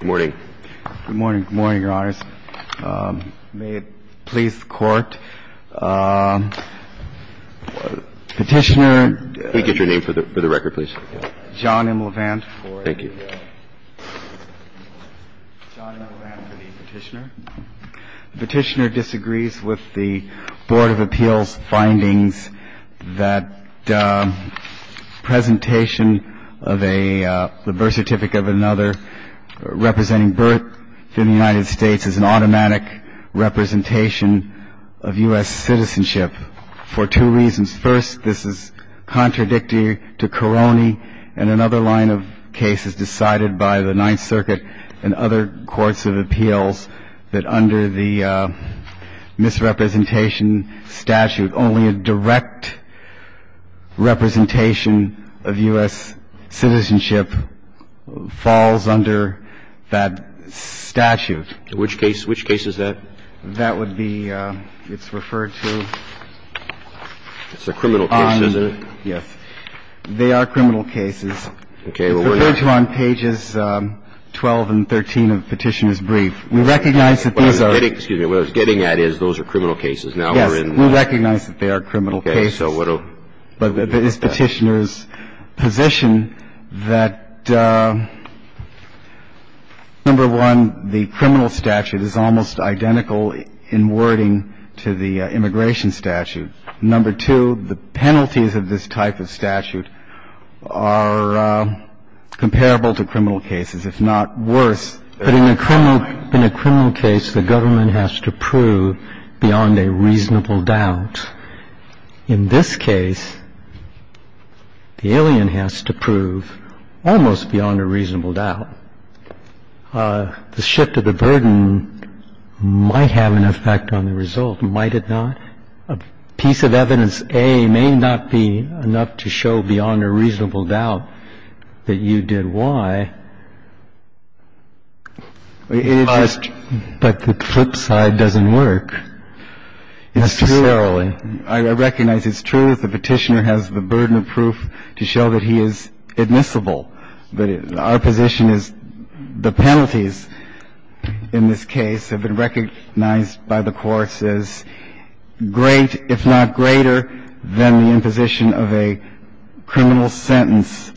Good morning, Your Honors. May it please the Court, Petitioner, John M. Levant. Petitioner disagrees with the Board of Appeals findings that presentation of a birth certificate of another representing birth in the United States is an automatic representation of U.S. citizenship for two reasons. First, this is contradictory to Karony and another line of cases decided by the Ninth Circuit and other courts of appeals that under the United States citizenship falls under that statute. Which case? Which case is that? That would be – it's referred to on the – It's a criminal case, isn't it? Yes. They are criminal cases. Okay. Well, we're not – It's referred to on pages 12 and 13 of Petitioner's brief. We recognize that these are – What I'm getting – excuse me. What I was getting at is those are criminal cases. Now we're in – Yes. We recognize that they are criminal cases. Okay. So what do – But it's Petitioner's position that, number one, the criminal statute is almost identical in wording to the immigration statute. Number two, the penalties of this type of statute are comparable to criminal cases, if not worse. But in a criminal – in a criminal case, the government has to prove beyond a reasonable doubt. In this case, the alien has to prove almost beyond a reasonable doubt. The shift of the burden might have an effect on the result, might it not? A piece of evidence, A, may not be enough to show beyond a reasonable doubt that you did Y. But the flip side doesn't work necessarily. I recognize it's true that the Petitioner has the burden of proof to show that he is admissible. But our position is the penalties in this case have been recognized by the courts as great, if not greater, than the imposition of a criminal sentence.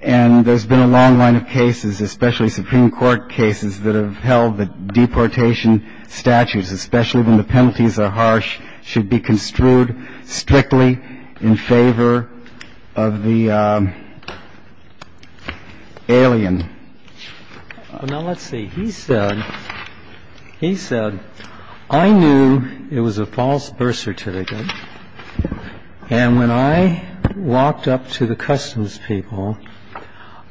And there's been a long line of cases, especially Supreme Court cases, that have held that deportation statutes, especially when the penalties are harsh, should be construed strictly in favor of the alien. Now, let's see. He said – he said, I knew it was a false birth certificate. And when I walked up to the customs people,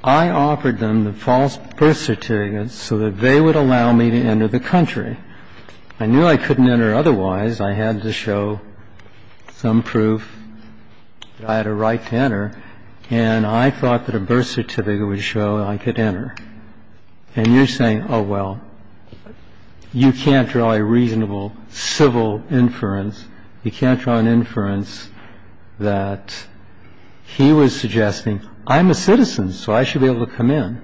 I offered them the false birth certificate so that they would allow me to enter the country. I knew I couldn't enter otherwise. I had to show some proof that I had a right to enter. And I thought that a birth certificate would show I could enter. And you're saying, oh, well, you can't draw a reasonable civil inference. You can't draw an inference that he was suggesting, I'm a citizen, so I should be able to come in.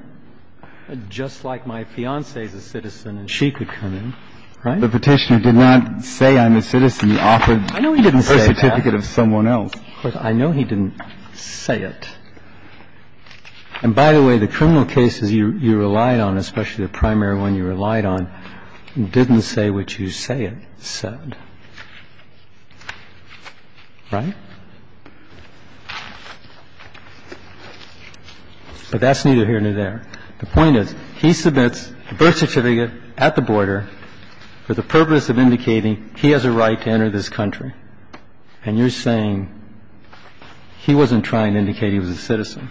Just like my fiancée is a citizen and she could come in. Right? The Petitioner did not say I'm a citizen. He offered a birth certificate of someone else. I know he didn't say that. Of course, I know he didn't say it. And by the way, the criminal cases you relied on, especially the primary one you relied on, didn't say what you say it said. Right? But that's neither here nor there. The point is, he submits a birth certificate at the border for the purpose of indicating he has a right to enter this country. And you're saying he wasn't trying to indicate he was a citizen.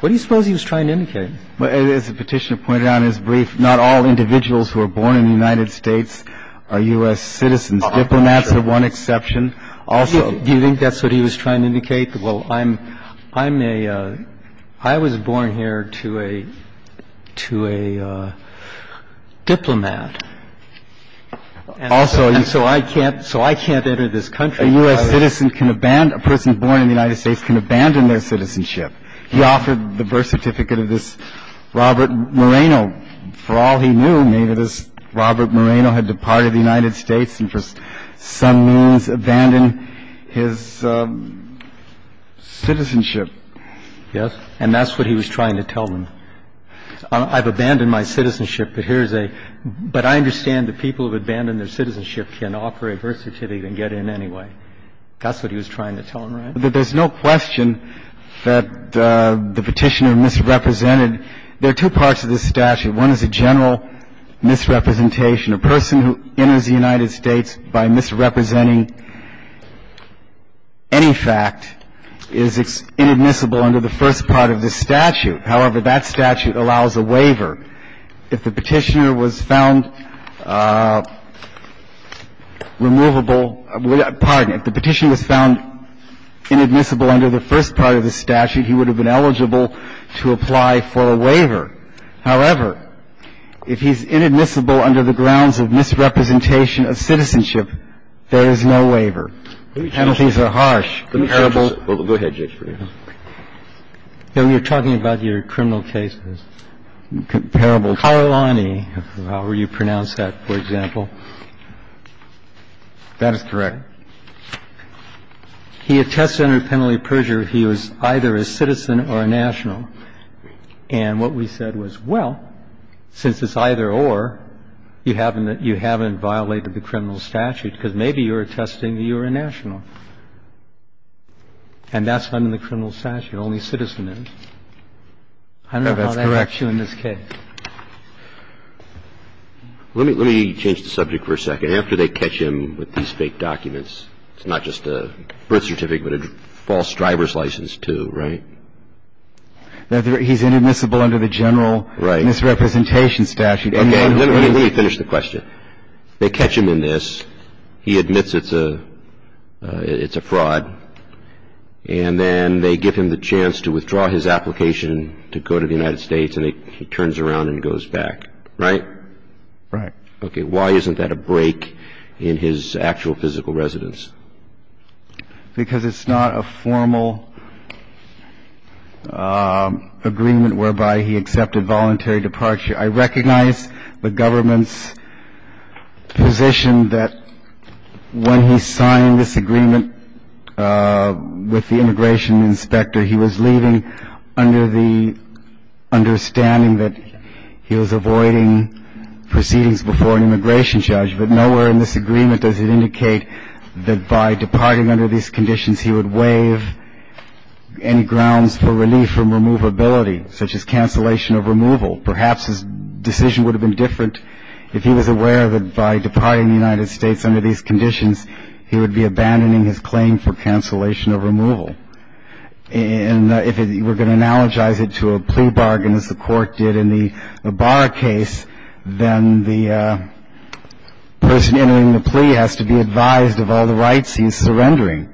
What do you suppose he was trying to indicate? As the Petitioner pointed out in his brief, not all individuals who are born in the United States are U.S. citizens. Diplomats are one exception. Also, do you think that's what he was trying to indicate? Well, I'm a — I was born here to a — to a diplomat. Also, so I can't — so I can't enter this country. A U.S. citizen can abandon — a person born in the United States can abandon their citizenship. He offered the birth certificate of this Robert Moreno. For all he knew, maybe this Robert Moreno had departed the United States and for some means abandoned his citizenship. Yes. And that's what he was trying to tell them. I've abandoned my citizenship, but here's a — but I understand that people who have abandoned their citizenship can offer a birth certificate and get in anyway. That's what he was trying to tell them, right? There's no question that the Petitioner misrepresented — there are two parts of this statute. One is a general misrepresentation. A person who enters the United States by misrepresenting any fact is inadmissible under the first part of the statute. However, that statute allows a waiver. If the Petitioner was found removable — pardon me — if the Petitioner was found inadmissible under the first part of the statute, he would have been eligible to apply for a waiver. However, if he's inadmissible under the grounds of misrepresentation of citizenship, there is no waiver. The penalties are harsh. Comparable — Go ahead, Judge. You're talking about your criminal cases. Comparable. Karolany, however you pronounce that, for example. That is correct. He attests under penalty of perjury he was either a citizen or a national. And what we said was, well, since it's either-or, you haven't violated the criminal statute because maybe you're attesting that you're a national. And that's under the criminal statute, only citizen is. I don't know how that helps you in this case. That's correct. Let me change the subject for a second. After they catch him with these fake documents, it's not just a birth certificate but a false driver's license, too, right? He's inadmissible under the general misrepresentation statute. Let me finish the question. They catch him in this. He admits it's a fraud. And then they give him the chance to withdraw his application to go to the United States, and he turns around and goes back, right? Right. Okay. Why isn't that a break in his actual physical residence? Because it's not a formal agreement whereby he accepted voluntary departure. I recognize the government's position that when he signed this agreement with the immigration inspector, he was leaving under the understanding that he was avoiding proceedings before an immigration judge. But nowhere in this agreement does it indicate that by departing under these conditions he would waive any grounds for relief from removability, such as cancellation of removal. Perhaps his decision would have been different if he was aware that by departing the United States under these conditions, he would be abandoning his claim for cancellation of removal. And if you were going to analogize it to a plea bargain, as the court did in the person entering the plea has to be advised of all the rights he's surrendering.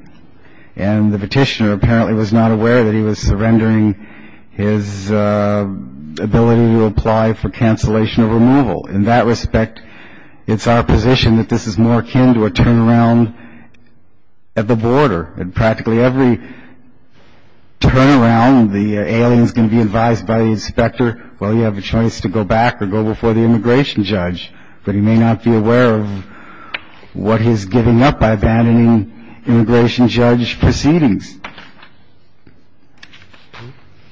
And the petitioner apparently was not aware that he was surrendering his ability to apply for cancellation of removal. In that respect, it's our position that this is more akin to a turnaround at the border. At practically every turnaround, the alien is going to be advised by the inspector, well, you have a choice to go back or go before the immigration judge. But he may not be aware of what he's giving up by abandoning immigration judge proceedings.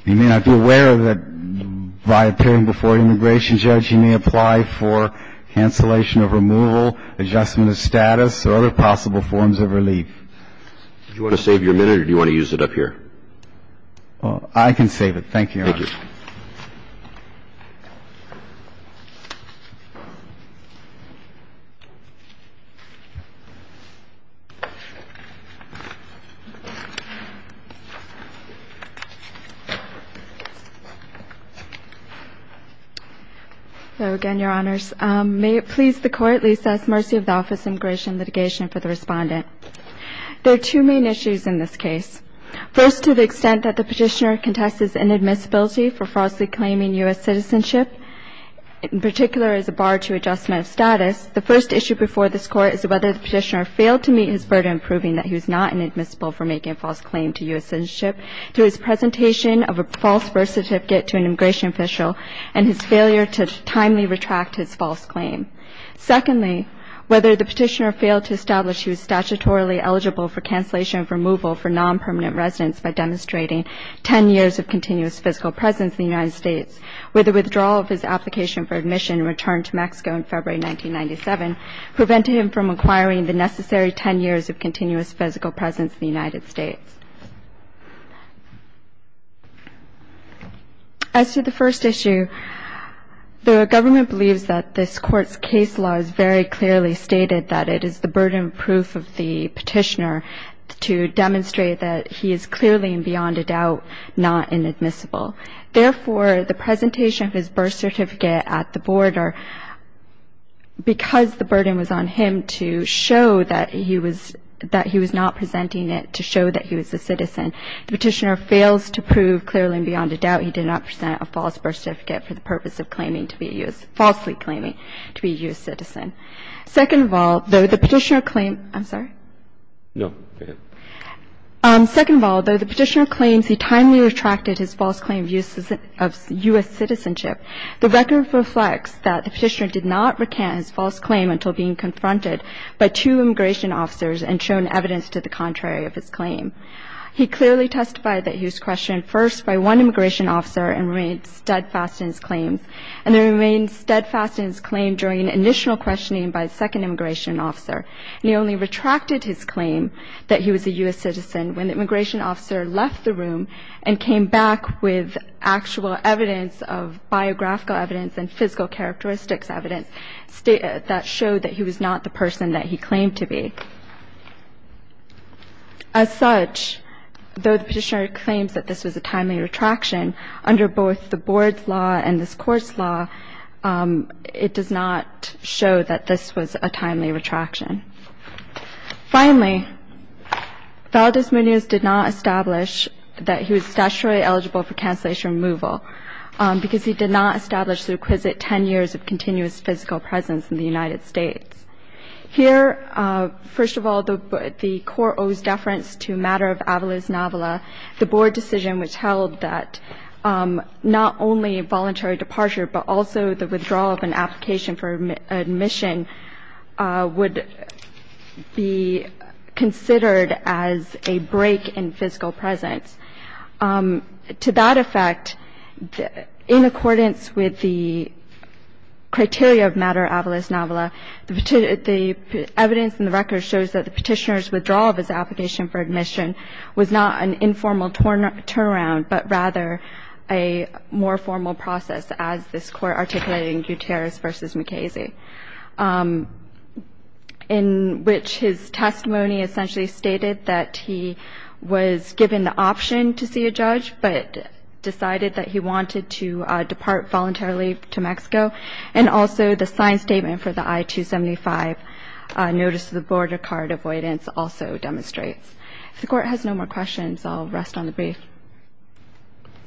He may not be aware that by appearing before an immigration judge he may apply for cancellation of removal, adjustment of status, or other possible forms of relief. Do you want to save your minute or do you want to use it up here? Well, I can save it. Thank you, Your Honor. So, again, Your Honors, may it please the Court, at least, ask mercy of the Office of Immigration and Litigation for the respondent. There are two main issues in this case. First, to the extent that the Petitioner contests his inadmissibility for falsely claiming U.S. citizenship, in particular as a bar to adjustment of status, the first issue before this Court is whether the Petitioner failed to meet his burden proving that he was not inadmissible for making a false claim to U.S. citizenship to his presentation of a false birth certificate to an immigration official and his failure to timely retract his false claim. Secondly, whether the Petitioner failed to establish he was statutorily eligible for cancellation of removal for non-permanent residence by demonstrating 10 years of continuous physical presence in the United States, whether withdrawal of his application for admission and return to Mexico in February 1997 prevented him from acquiring the necessary 10 years of continuous physical presence in the United States. As to the first issue, the government believes that this Court's case law has very clearly stated that it is the burden of proof of the Petitioner to demonstrate that he is clearly and beyond a doubt not inadmissible. Therefore, the presentation of his birth certificate at the Board, or because the burden was on him to show that he was not presenting it to show that he was not a U.S. citizen, the Petitioner fails to prove clearly and beyond a doubt he did not present a false birth certificate for the purpose of claiming to be a U.S. falsely claiming to be a U.S. citizen. Second of all, though the Petitioner claimed I'm sorry. No, go ahead. Second of all, though the Petitioner claims he timely retracted his false claim of U.S. citizenship, the record reflects that the Petitioner did not recant his false claim until being confronted by two immigration officers and shown evidence to the contrary of his claim. He clearly testified that he was questioned first by one immigration officer and remained steadfast in his claims, and he remained steadfast in his claim during initial questioning by a second immigration officer. And he only retracted his claim that he was a U.S. citizen when the immigration officer left the room and came back with actual evidence of biographical evidence and physical characteristics evidence that showed that he was not the person that he claimed to be. As such, though the Petitioner claims that this was a timely retraction, under both the Board's law and this Court's law, it does not show that this was a timely retraction. Finally, Valdez-Munoz did not establish that he was statutorily eligible for cancellation after removal because he did not establish the requisite 10 years of continuous physical presence in the United States. Here, first of all, the Court owes deference to a matter of avalos novela. The Board decision which held that not only voluntary departure but also the withdrawal of an application for admission would be considered as a break in physical presence. To that effect, in accordance with the criteria of matter avalos novela, the evidence in the record shows that the Petitioner's withdrawal of his application for admission was not an informal turnaround but rather a more formal process as this Court articulated in Gutierrez v. McKaysey, in which his testimony essentially stated that he was given the option to see a judge but decided that he wanted to depart voluntarily to Mexico, and also the signed statement for the I-275 notice to the Board of Card avoidance also demonstrates. If the Court has no more questions, I'll rest on the brief.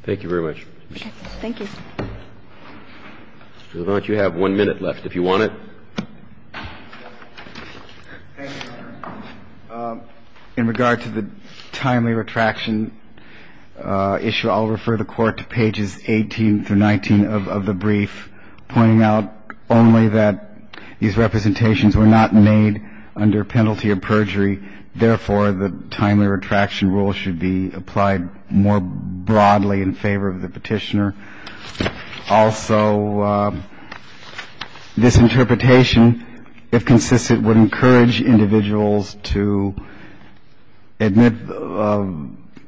Thank you very much. Thank you. Mr. Levant, you have one minute left if you want it. Thank you, Your Honor. In regard to the timely retraction issue, I'll refer the Court to pages 18 through 19 of the brief, pointing out only that these representations were not made under penalty of perjury. Therefore, the timely retraction rule should be applied more broadly in favor of the Petitioner. Also, this interpretation, if consistent, would encourage individuals to admit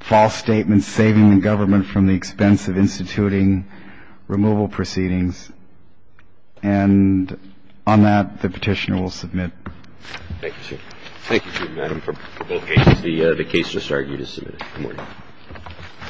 false statements saving the government from the expense of instituting removal proceedings. And on that, the Petitioner will submit. Thank you, sir. Thank you, Madam, for both cases. The case just argued is submitted. Good morning.